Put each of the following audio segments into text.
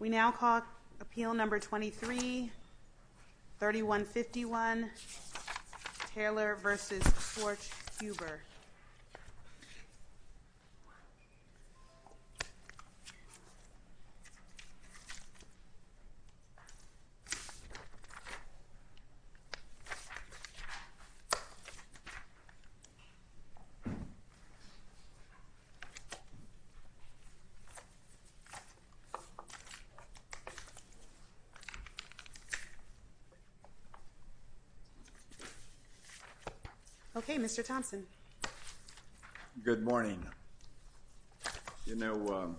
We now call appeal number 23-3151 Taylor v. Schwarzhuber. Okay, Mr. Thompson. Good morning. You know,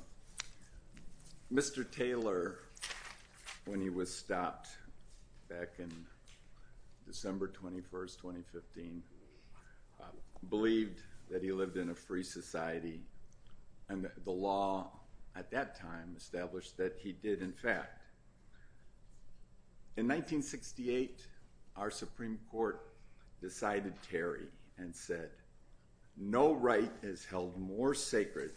Mr. Taylor, when he was stopped back in December 21, 2015, believed that he lived in a free society, and the law at that time established that he did, in fact. In 1968, our Supreme Court decided tarry and said, no right is held more sacred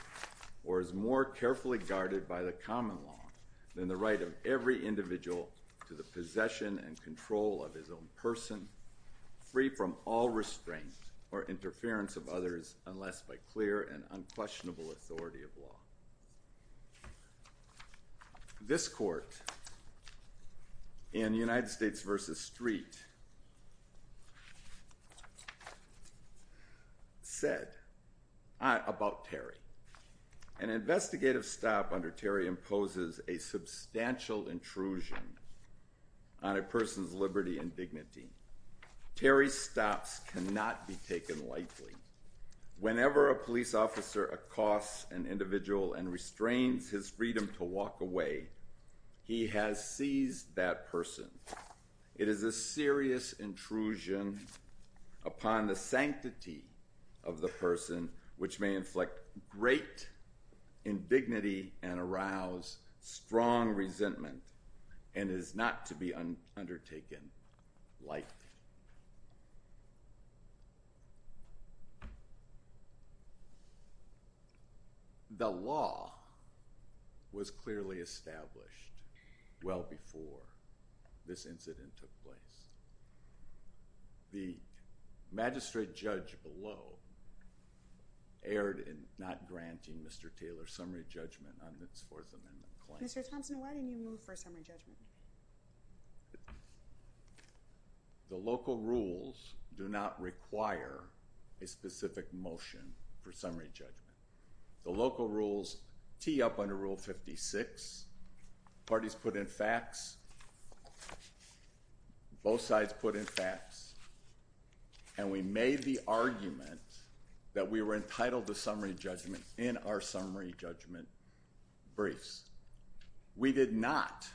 or is more carefully guarded by the common law than the right of every individual to the possession and control of his own person, free from all restraint or interference of others, unless by clear and unquestionable authority of law. This court, in United States v. Street, said about tarry, an investigative stop under tarry imposes a substantial intrusion on a person's liberty and dignity. Tarry's stops cannot be taken lightly. The law was clearly established well before this incident took place. The magistrate judge below erred in not granting Mr. Taylor summary judgment on this Fourth Amendment claim. Mr. Thompson, why didn't you move for summary judgment? The local rules do not require a specific motion for summary judgment. The local rules tee up under Rule 56. Parties put in facts. Both sides put in facts. And we made the argument that we were entitled to summary judgment in our summary judgment briefs. We did not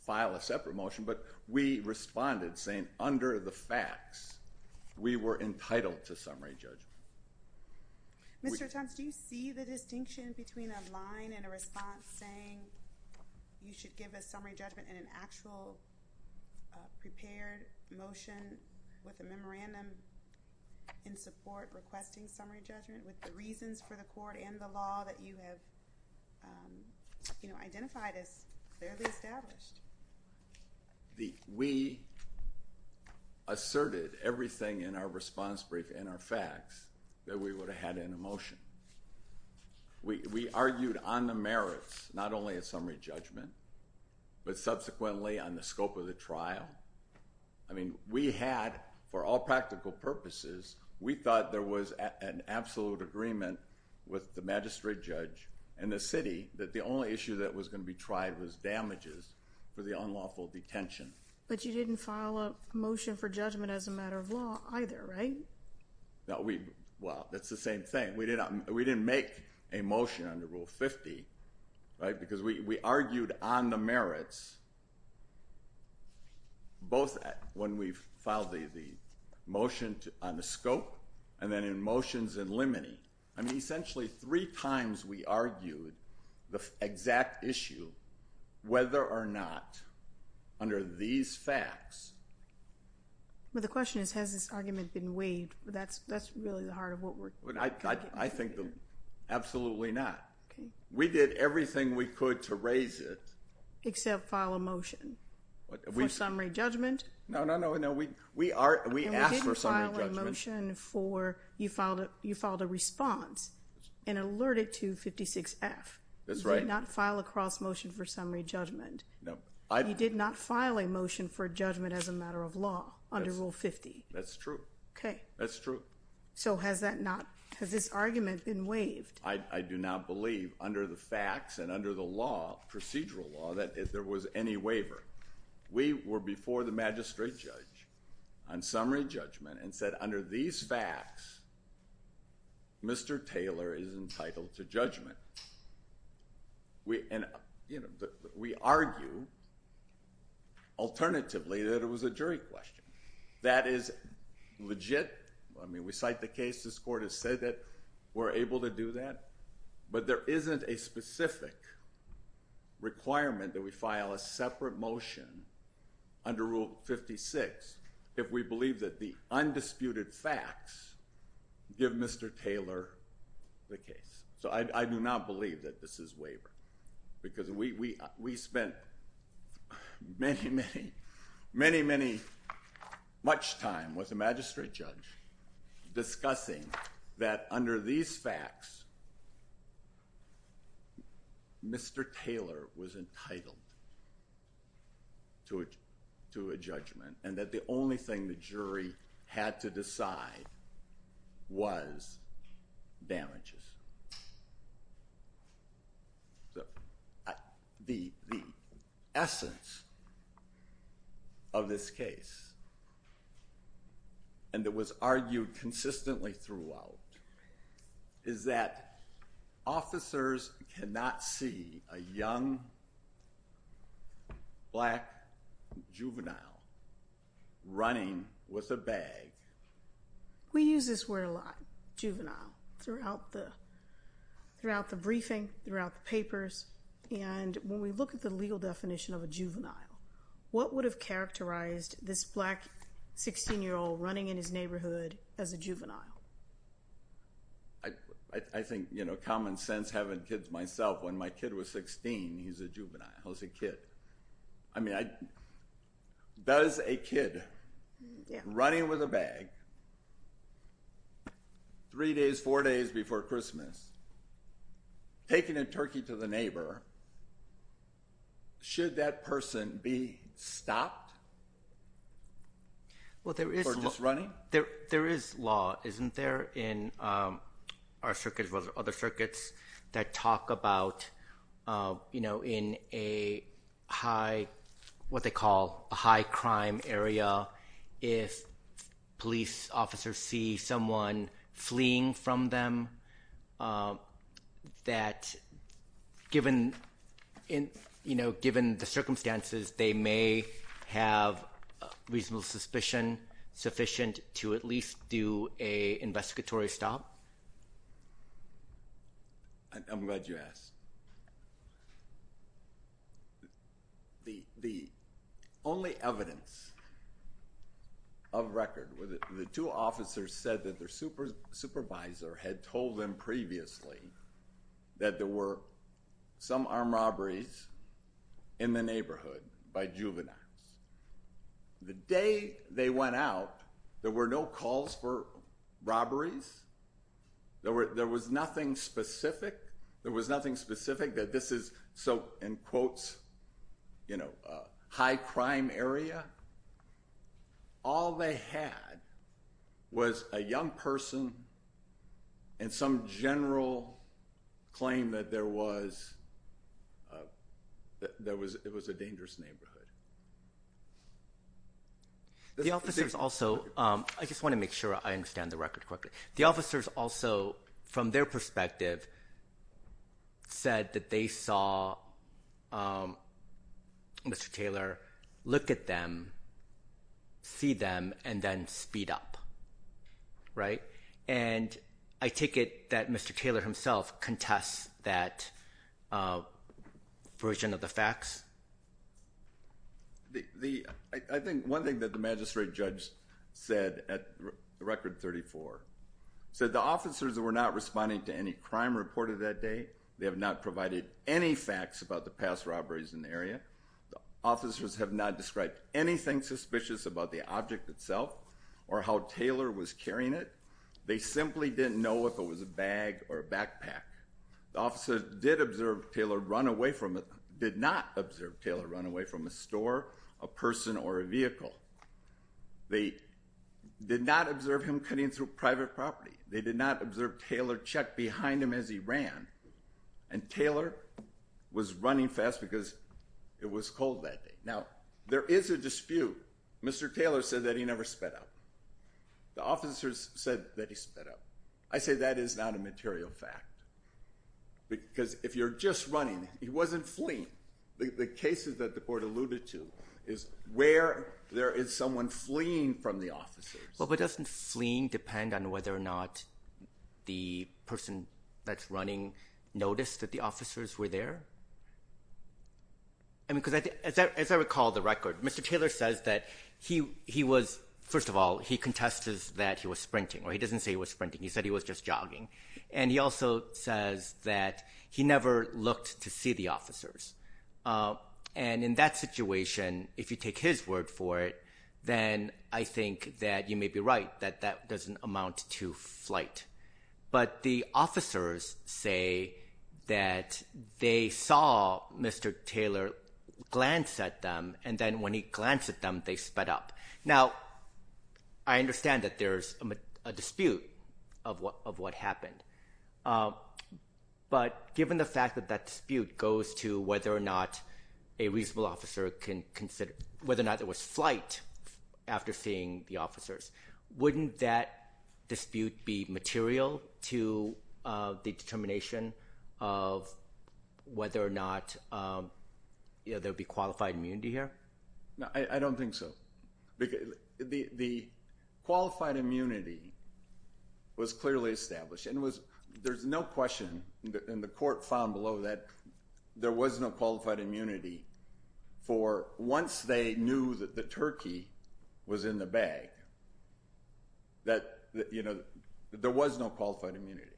file a separate motion, but we responded saying, under the facts, we were entitled to summary judgment. Mr. Thompson, do you see the distinction between a line and a response saying you should give a summary judgment in an actual prepared motion with a memorandum in support requesting summary judgment, with the reasons for the court and the law that you have identified as clearly established? We asserted everything in our response brief and our facts that we would have had in a motion. We argued on the merits, not only a summary judgment, but subsequently on the scope of the trial. I mean, we had, for all practical purposes, we thought there was an absolute agreement with the magistrate judge and the city that the only issue that was going to be tried was damages for the unlawful detention. But you didn't file a motion for judgment as a matter of law either, right? Well, that's the same thing. We didn't make a motion under Rule 50, right? Because we argued on the merits, both when we filed the motion on the scope and then in motions in limine. I mean, essentially three times we argued the exact issue, whether or not, under these facts. Well, the question is, has this argument been waived? That's really the heart of what we're talking about. I think absolutely not. We did everything we could to raise it. Except file a motion for summary judgment. No, no, no. We asked for summary judgment. You filed a response and alerted to 56F. That's right. You did not file a cross-motion for summary judgment. No. You did not file a motion for judgment as a matter of law under Rule 50. That's true. Okay. That's true. So has that not, has this argument been waived? I do not believe, under the facts and under the law, procedural law, that there was any waiver. We were before the magistrate judge on summary judgment and said, under these facts, Mr. Taylor is entitled to judgment. We argue, alternatively, that it was a jury question. That is legit. I mean, we cite the case. This court has said that we're able to do that. But there isn't a specific requirement that we file a separate motion under Rule 56 if we believe that the undisputed facts give Mr. Taylor the case. So I do not believe that this is waiver. Because we spent many, many, many, many, much time with the magistrate judge discussing that under these facts, Mr. Taylor was entitled to a judgment. And that the only thing the jury had to decide was damages. The essence of this case, and it was argued consistently throughout, is that officers cannot see a young, black juvenile running with a bag. We use this word a lot, juvenile, throughout the briefing, throughout the papers. And when we look at the legal definition of a juvenile, what would have characterized this black 16-year-old running in his neighborhood as a juvenile? I think, you know, common sense, having kids myself, when my kid was 16, he was a juvenile, he was a kid. I mean, does a kid running with a bag three days, four days before Christmas, taking a turkey to the neighbor, should that person be stopped for just running? There is law, isn't there, in our circuits, as well as other circuits, that talk about, you know, in a high, what they call a high crime area, if police officers see someone fleeing from them, that given, you know, given the circumstances, they may have reasonable suspicion sufficient to at least do an investigatory stop? I'm glad you asked. The only evidence of record, the two officers said that their supervisor had told them previously that there were some armed robberies in the neighborhood by juveniles. The day they went out, there were no calls for robberies, there was nothing specific, there was nothing specific that this is, so, in quotes, you know, a high crime area. All they had was a young person and some general claim that there was, that it was a dangerous neighborhood. The officers also, I just want to make sure I understand the record correctly, the officers also, from their perspective, said that they saw Mr. Taylor look at them, see them, and then speed up, right? And I take it that Mr. Taylor himself contests that version of the facts? The, I think one thing that the magistrate judge said at record 34, said the officers were not responding to any crime reported that day, they have not provided any facts about the past robberies in the area, the officers have not described anything suspicious about the object itself or how Taylor was carrying it, they simply didn't know if it was a bag or a backpack. The officers did observe Taylor run away from, did not observe Taylor run away from a store, a person, or a vehicle. They did not observe him cutting through private property, they did not observe Taylor check behind him as he ran, and Taylor was running fast because it was cold that day. Now, there is a dispute. Mr. Taylor said that he never sped up. The officers said that he sped up. I say that is not a material fact. Because if you're just running, he wasn't fleeing. The cases that the court alluded to is where there is someone fleeing from the officers. Well, but doesn't fleeing depend on whether or not the person that's running noticed that the officers were there? I mean, because as I recall the record, Mr. Taylor says that he was, first of all, he contested that he was sprinting, or he doesn't say he was sprinting, he said he was just jogging. And he also says that he never looked to see the officers. And in that situation, if you take his word for it, then I think that you may be right, that that doesn't amount to flight. But the officers say that they saw Mr. Taylor glance at them, and then when he glanced at them, they sped up. Now, I understand that there's a dispute of what happened. But given the fact that that dispute goes to whether or not a reasonable officer can consider, whether or not there was flight after seeing the officers, wouldn't that dispute be material to the determination of whether or not there would be qualified immunity here? No, I don't think so. The qualified immunity was clearly established, and there's no question in the court found below that there was no qualified immunity for once they knew that the turkey was in the bag, that there was no qualified immunity.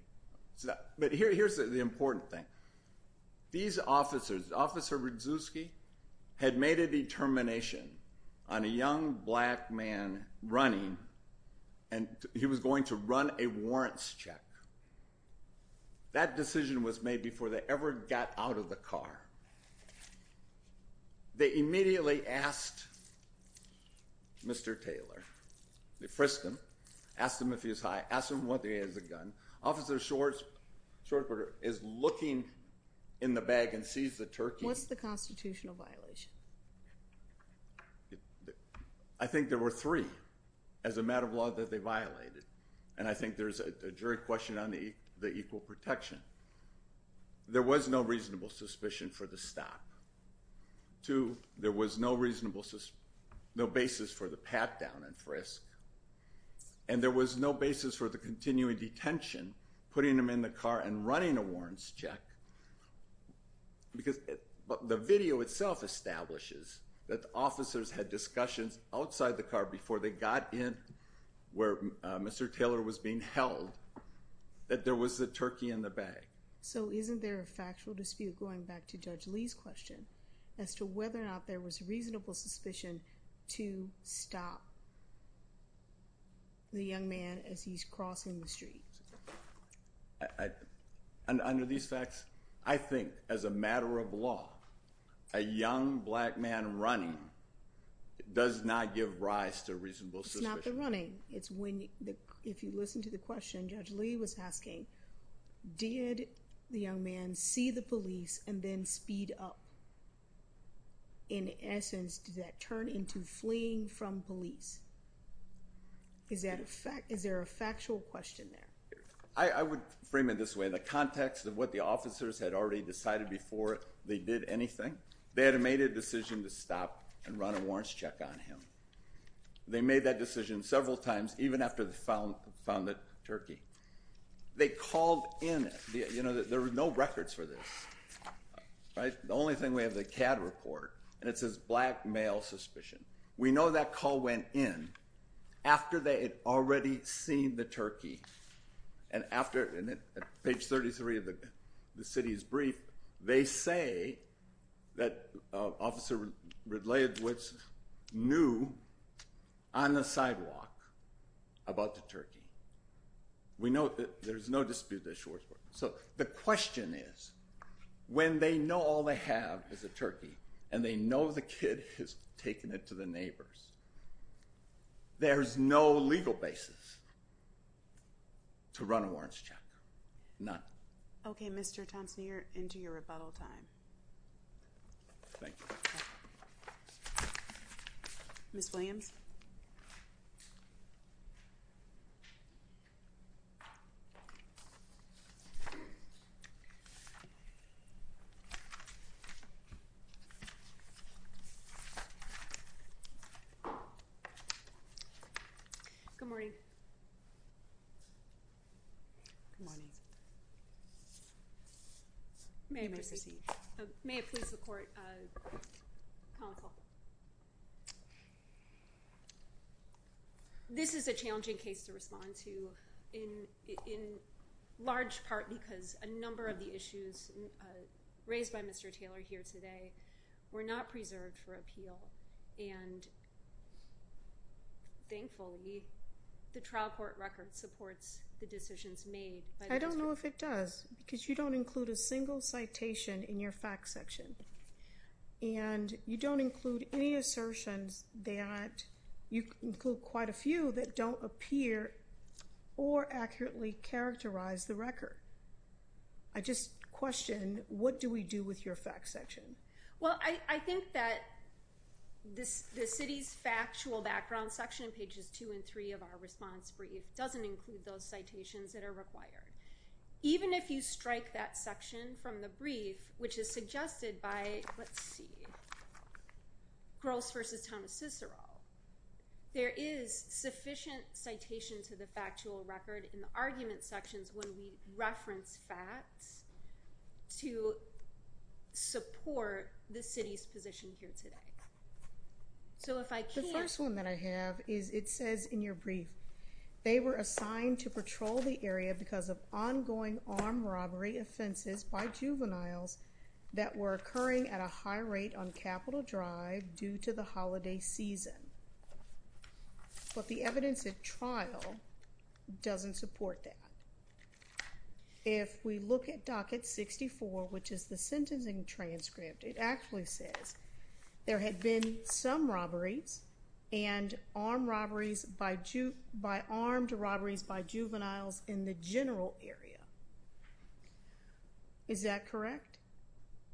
But here's the important thing. These officers, Officer Rudzewski had made a determination on a young black man running, and he was going to run a warrants check. That decision was made before they ever got out of the car. They immediately asked Mr. Taylor, they frisked him, asked him if he was high, asked him whether he had a gun. Officer Shorter is looking in the bag and sees the turkey. What's the constitutional violation? I think there were three as a matter of law that they violated. And I think there's a jury question on the equal protection. There was no reasonable suspicion for the stop. Two, there was no basis for the pat down and frisk. And there was no basis for the continuing detention, putting him in the car and running a warrants check. Because the video itself establishes that the officers had discussions outside the car before they got in where Mr. Taylor was being held, that there was the turkey in the bag. So isn't there a factual dispute going back to Judge Lee's question as to whether or not there was reasonable suspicion to stop the young man as he's crossing the street? Under these facts, I think as a matter of law, a young black man running does not give rise to reasonable suspicion. It's not the running. If you listen to the question Judge Lee was asking, did the young man see the police and then speed up? In essence, did that turn into fleeing from police? Is there a factual question there? I would frame it this way. In the context of what the officers had already decided before they did anything, they had made a decision to stop and run a warrants check on him. They made that decision several times, even after they found the turkey. They called in. There were no records for this. The only thing we have, the CAD report, and it says black male suspicion. We know that call went in after they had already seen the turkey. And page 33 of the city's brief, they say that Officer Ridleyowitz knew on the sidewalk about the turkey. We know that there's no dispute at Shoresport. So the question is, when they know all they have is a turkey, and they know the kid has taken it to the neighbors, there's no legal basis to run a warrants check. None. Okay, Mr. Thompson, you're into your rebuttal time. Thank you. Ms. Williams? Okay. Good morning. Good morning. You may proceed. May it please the court, counsel. This is a challenging case to respond to in large part because a number of the issues raised by Mr. Taylor here today were not preserved for appeal. And thankfully, the trial court record supports the decisions made. I don't know if it does, because you don't include a single citation in your facts section. And you don't include any assertions that, you include quite a few that don't appear or accurately characterize the record. I just question, what do we do with your facts section? Well, I think that the city's factual background section in pages 2 and 3 of our response brief doesn't include those citations that are required. Even if you strike that section from the brief, which is suggested by, let's see, Gross versus Thomas Cicero, there is sufficient citation to the factual record in the argument sections when we reference facts to support the city's position here today. So if I can... The first one that I have is, it says in your brief, they were assigned to patrol the area because of ongoing armed robbery offenses by juveniles that were occurring at a high rate on Capitol Drive due to the holiday season. But the evidence at trial doesn't support that. If we look at docket 64, which is the sentencing transcript, it actually says, there had been some robberies and armed robberies by juveniles in the general area. Is that correct?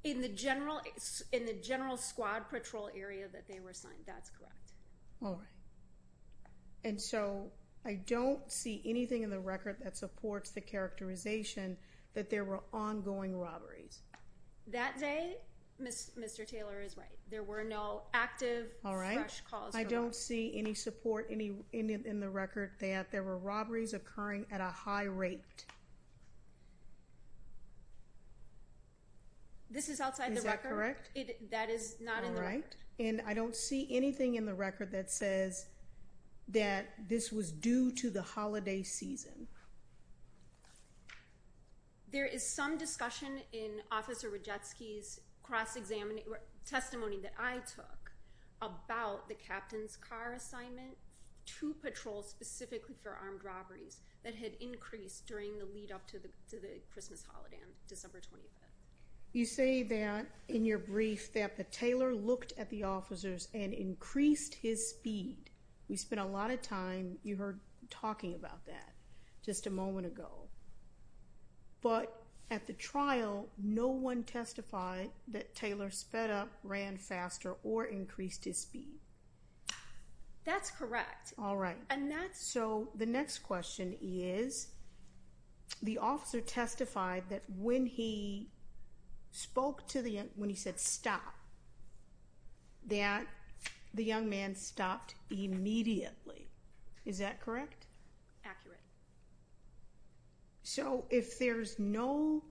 In the general squad patrol area that they were assigned, that's correct. All right. And so I don't see anything in the record that supports the characterization that there were ongoing robberies. That day, Mr. Taylor is right. There were no active, fresh calls. All right. I don't see any support in the record that there were robberies occurring at a high rate. This is outside the record. Is that correct? That is not in the record. All right. And I don't see anything in the record that says that this was due to the holiday season. There is some discussion in Officer Radetsky's testimony that I took about the captain's car assignment to patrol specifically for armed robberies that had increased during the lead up to the Christmas holiday on December 25th. You say that in your brief that the Taylor looked at the officers and increased his speed. We spent a lot of time, you heard, talking about that just a moment ago. But at the trial, no one testified that Taylor sped up, ran faster, or increased his speed. That's correct. All right. So, the next question is, the officer testified that when he said stop, that the young man stopped immediately. Is that correct? Accurate. So, if there's no,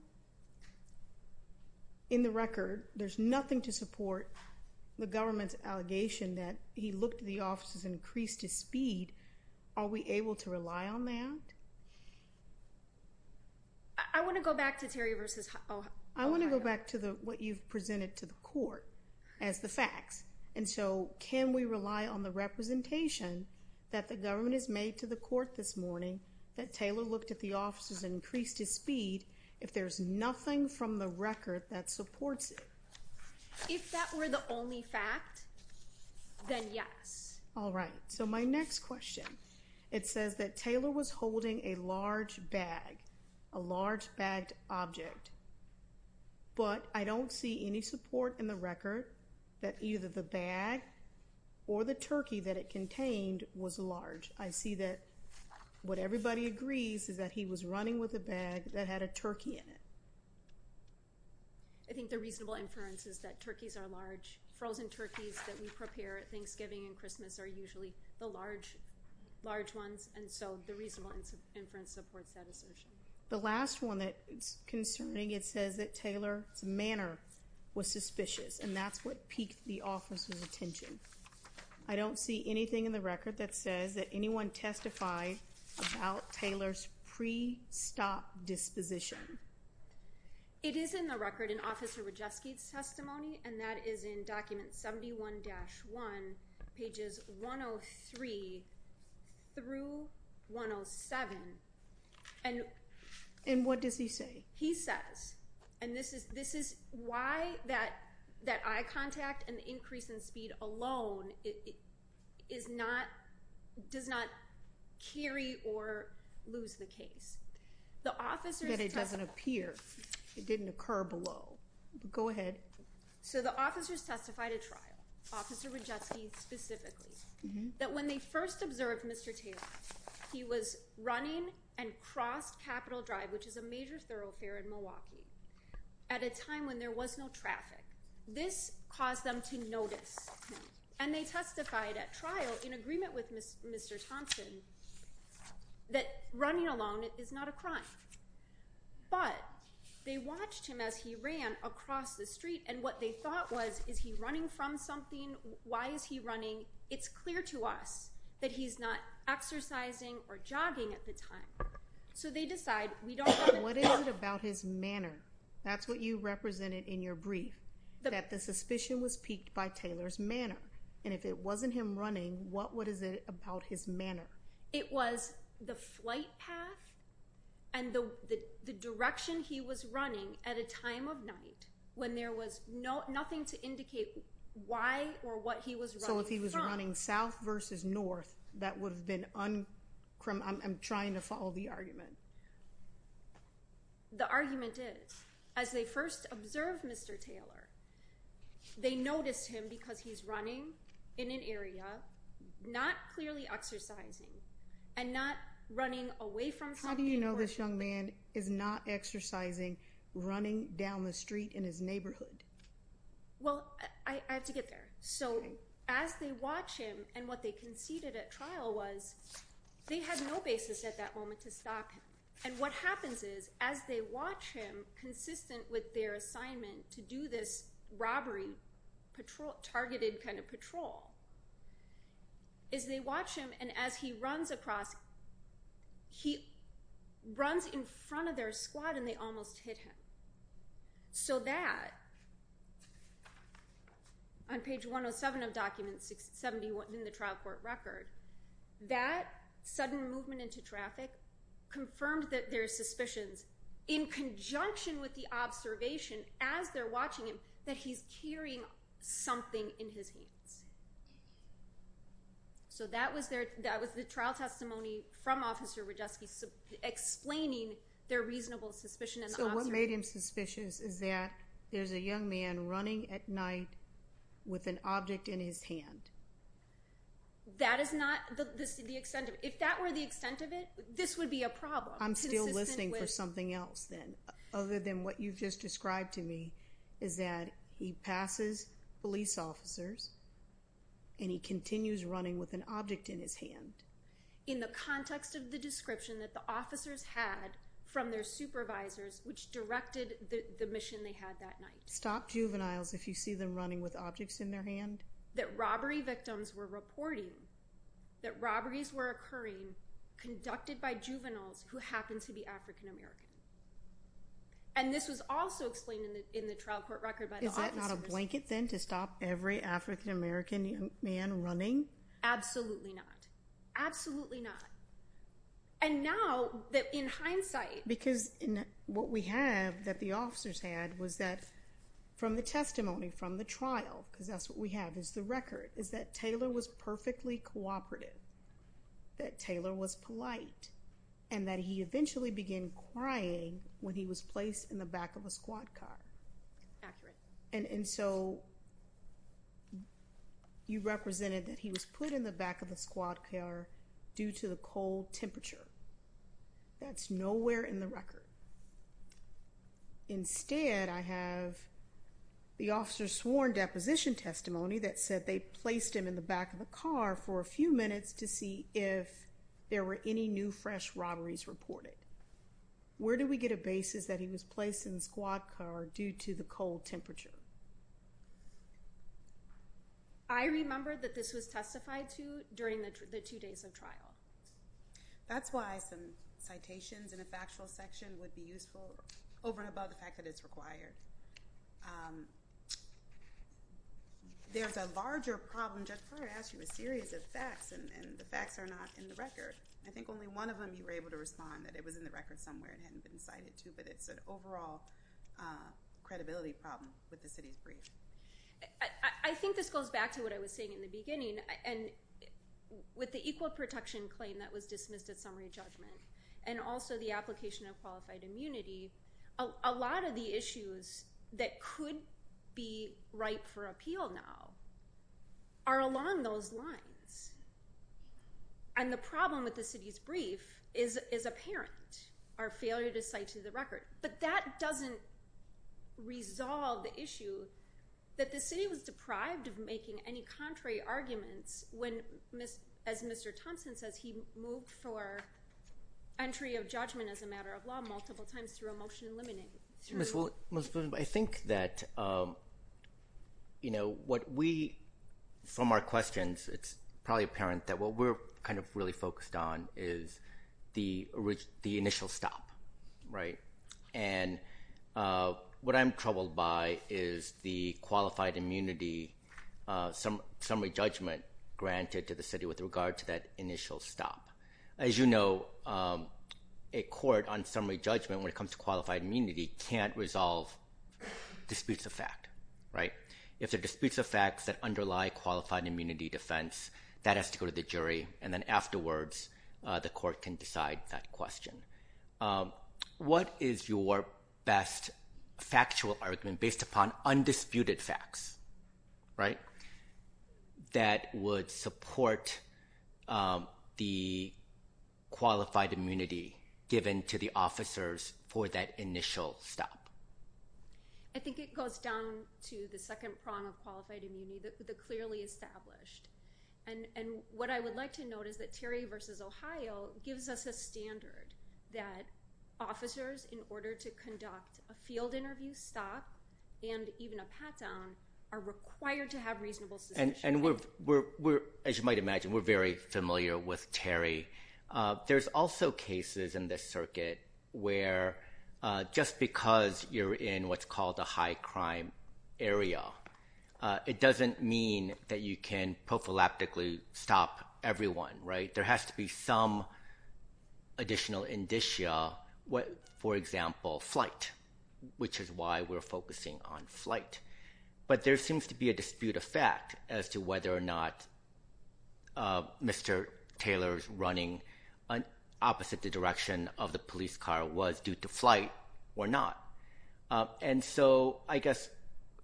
in the record, there's nothing to support the government's allegation that he looked at the officers and increased his speed, are we able to rely on that? I want to go back to Terry versus... I want to go back to what you've presented to the court as the facts. And so, can we rely on the representation that the government has made to the court this morning that Taylor looked at the officers and increased his speed if there's nothing from the record that supports it? If that were the only fact, then yes. All right. So, my next question, it says that Taylor was holding a large bag, a large bagged object, but I don't see any support in the record that either the bag or the turkey that it contained was large. I see that what everybody agrees is that he was running with a bag that had a turkey in it. I think the reasonable inference is that turkeys are large. Frozen turkeys that we prepare at Thanksgiving and Christmas are usually the large ones, and so the reasonable inference supports that assertion. The last one that's concerning, it says that Taylor's manner was suspicious, and that's what piqued the officers' attention. I don't see anything in the record that says that anyone testified about Taylor's pre-stop disposition. It is in the record in Officer Wojcicki's testimony, and that is in document 71-1, pages 103 through 107. And what does he say? He says, and this is why that eye contact and increase in speed alone does not carry or lose the case. But it doesn't appear. It didn't occur below. Go ahead. So the officers testified at trial, Officer Wojcicki specifically, that when they first observed Mr. Taylor, he was running and crossed Capitol Drive, which is a major thoroughfare in Milwaukee, at a time when there was no traffic. This caused them to notice, and they testified at trial in agreement with Mr. Thompson that running alone is not a crime. But they watched him as he ran across the street, and what they thought was, is he running from something? Why is he running? It's clear to us that he's not exercising or jogging at the time. What is it about his manner? That's what you represented in your brief, that the suspicion was piqued by Taylor's manner. And if it wasn't him running, what is it about his manner? It was the flight path and the direction he was running at a time of night when there was nothing to indicate why or what he was running from. So if he was running south versus north, that would have been un- I'm trying to follow the argument. The argument is, as they first observed Mr. Taylor, they noticed him because he's running in an area, not clearly exercising, and not running away from something in question. How do you know this young man is not exercising, running down the street in his neighborhood? Well, I have to get there. So as they watch him, and what they conceded at trial was, they had no basis at that moment to stop him. And what happens is, as they watch him, consistent with their assignment to do this robbery, targeted kind of patrol, is they watch him, and as he runs across, he runs in front of their squad and they almost hit him. So that, on page 107 of document 71 in the trial court record, that sudden movement into traffic confirmed that their suspicions, in conjunction with the observation as they're watching him, that he's carrying something in his hands. So that was their- that was the trial testimony from Officer Rajewski explaining their reasonable suspicion. So what made him suspicious is that there's a young man running at night with an object in his hand. That is not the extent of- if that were the extent of it, this would be a problem. I'm still listening for something else then, other than what you've just described to me, is that he passes police officers, and he continues running with an object in his hand. In the context of the description that the officers had from their supervisors, which directed the mission they had that night. Stopped juveniles if you see them running with objects in their hand. That robbery victims were reporting that robberies were occurring conducted by juveniles who happened to be African American. And this was also explained in the trial court record by the officers. Is that not a blanket then to stop every African American young man running? Absolutely not. Absolutely not. And now that in hindsight- Because what we have that the officers had was that from the testimony from the trial, because that's what we have is the record, is that Taylor was perfectly cooperative. That Taylor was polite. And that he eventually began crying when he was placed in the back of a squad car. Accurate. And so, you represented that he was put in the back of a squad car due to the cold temperature. That's nowhere in the record. Instead, I have the officers sworn deposition testimony that said they placed him in the back of a car for a few minutes to see if there were any new fresh robberies reported. Where do we get a basis that he was placed in the squad car due to the cold temperature? I remember that this was testified to during the two days of trial. That's why some citations in a factual section would be useful over and above the fact that it's required. There's a larger problem. Judge Brewer asked you a series of facts and the facts are not in the record. I think only one of them you were able to respond, that it was in the record somewhere and hadn't been cited to. But it's an overall credibility problem with the city's brief. I think this goes back to what I was saying in the beginning. With the equal protection claim that was dismissed at summary judgment, and also the application of qualified immunity, a lot of the issues that could be ripe for appeal now are along those lines. And the problem with the city's brief is apparent, our failure to cite to the record. But that doesn't resolve the issue that the city was deprived of making any contrary arguments when, as Mr. Thompson says, he moved for entry of judgment as a matter of law multiple times through a motion eliminating. I think that from our questions, it's probably apparent that what we're really focused on is the initial stop. And what I'm troubled by is the qualified immunity summary judgment granted to the city with regard to that initial stop. As you know, a court on summary judgment when it comes to qualified immunity can't resolve disputes of fact. If there are disputes of facts that underlie qualified immunity defense, that has to go to the jury, and then afterwards the court can decide that question. What is your best factual argument based upon undisputed facts that would support the qualified immunity given to the officers for that initial stop? I think it goes down to the second prong of qualified immunity, the clearly established. And what I would like to note is that Terry v. Ohio gives us a standard that officers, in order to conduct a field interview stop and even a pat down, are required to have reasonable suspicion. As you might imagine, we're very familiar with Terry. There's also cases in this circuit where just because you're in what's called a high crime area, it doesn't mean that you can prophylactically stop everyone, right? There has to be some additional indicia. For example, flight, which is why we're focusing on flight. But there seems to be a dispute of fact as to whether or not Mr. Taylor's running opposite the direction of the police car was due to flight or not. And so I guess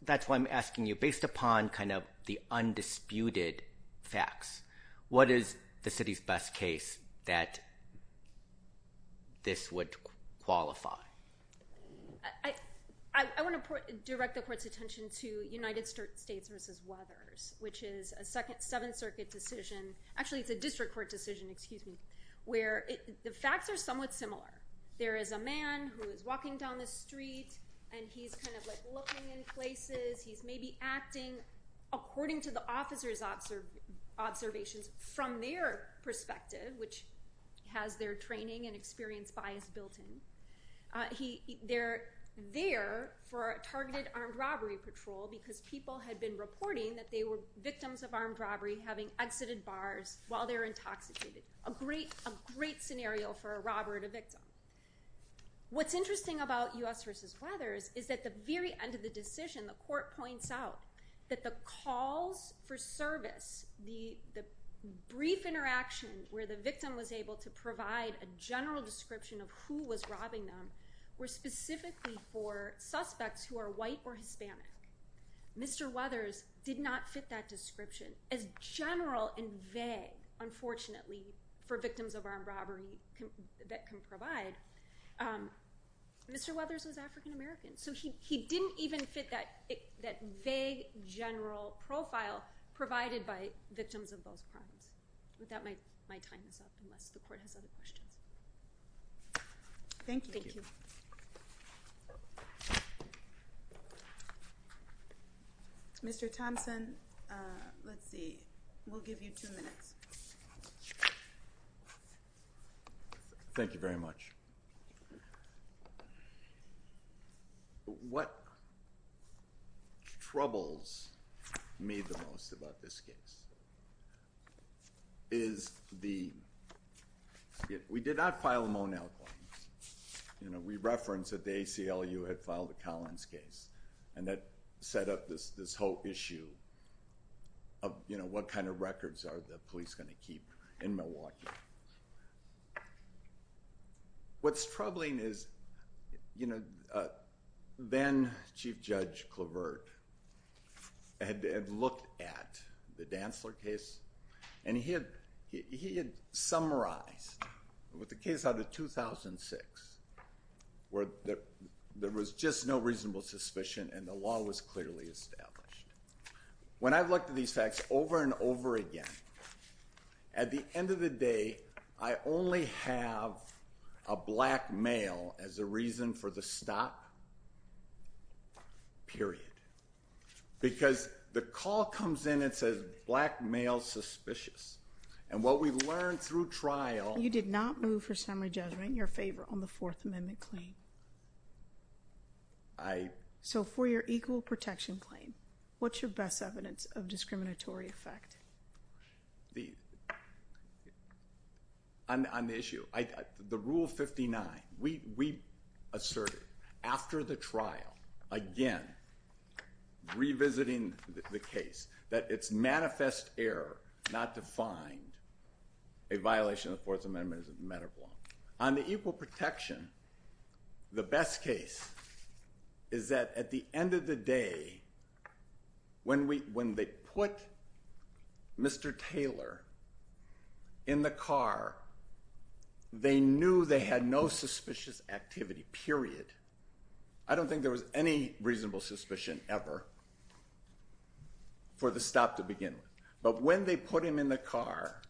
that's why I'm asking you, based upon kind of the undisputed facts, what is the city's best case that this would qualify? I want to direct the court's attention to United States v. Weathers, which is a Seventh Circuit decision, actually it's a district court decision, excuse me, where the facts are somewhat similar. There is a man who is walking down the street and he's kind of like looking in places, he's maybe acting according to the officer's observations from their perspective, which has their training and experience bias built in. They're there for a targeted armed robbery patrol because people had been reporting that they were victims of armed robbery having exited bars while they were intoxicated. A great scenario for a robber and a victim. What's interesting about U.S. v. Weathers is that the very end of the decision, the court points out that the calls for service, the brief interaction where the victim was able to provide a general description of who was robbing them, were specifically for suspects who are white or Hispanic. Mr. Weathers did not fit that description. As general and vague, unfortunately, for victims of armed robbery that can provide, Mr. Weathers was African American. So he didn't even fit that vague general profile provided by victims of those crimes. But that might time this up unless the court has other questions. Thank you. Mr. Thompson, let's see, we'll give you two minutes. Thank you very much. What troubles me the most about this case is the, we did not file a Monell claim. We referenced that the ACLU had filed a Collins case and that set up this whole issue of what kind of records are the police going to keep in Milwaukee. What's troubling is, you know, then Chief Judge Clavert had looked at the Dantzler case and he had summarized with the case out of 2006 where there was just no reasonable suspicion and the law was clearly established. When I've looked at these facts over and over again, at the end of the day, I only have a black male as a reason for the stop, period. Because the call comes in and says black male suspicious. And what we've learned through trial. You did not move for summary judgment in your favor on the Fourth Amendment claim. I. So for your equal protection claim, what's your best evidence of discriminatory effect? On the issue, the Rule 59, we asserted after the trial, again, revisiting the case, that it's manifest error not to find a violation of the Fourth Amendment as a matter of law. On the equal protection, the best case is that at the end of the day, when they put Mr. Taylor in the car, they knew they had no suspicious activity, period. I don't think there was any reasonable suspicion ever for the stop to begin with. But when they put him in the car,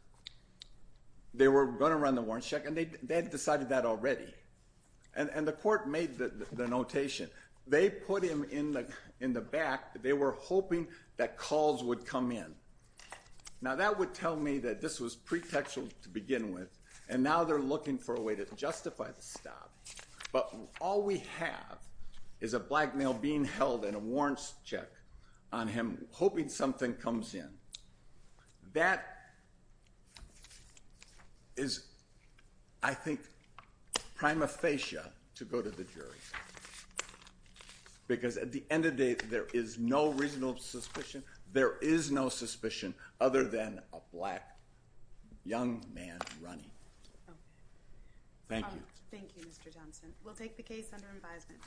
they were going to run the warrant check and they had decided that already. And the court made the notation. They put him in the back. They were hoping that calls would come in. Now that would tell me that this was pretextual to begin with. And now they're looking for a way to justify the stop. But all we have is a black male being held and a warrants check on him hoping something comes in. That is, I think, prima facie to go to the jury. Because at the end of the day, there is no reasonable suspicion. There is no suspicion other than a black young man running. Thank you. Thank you, Mr. Thompson. We'll take the case under advisement.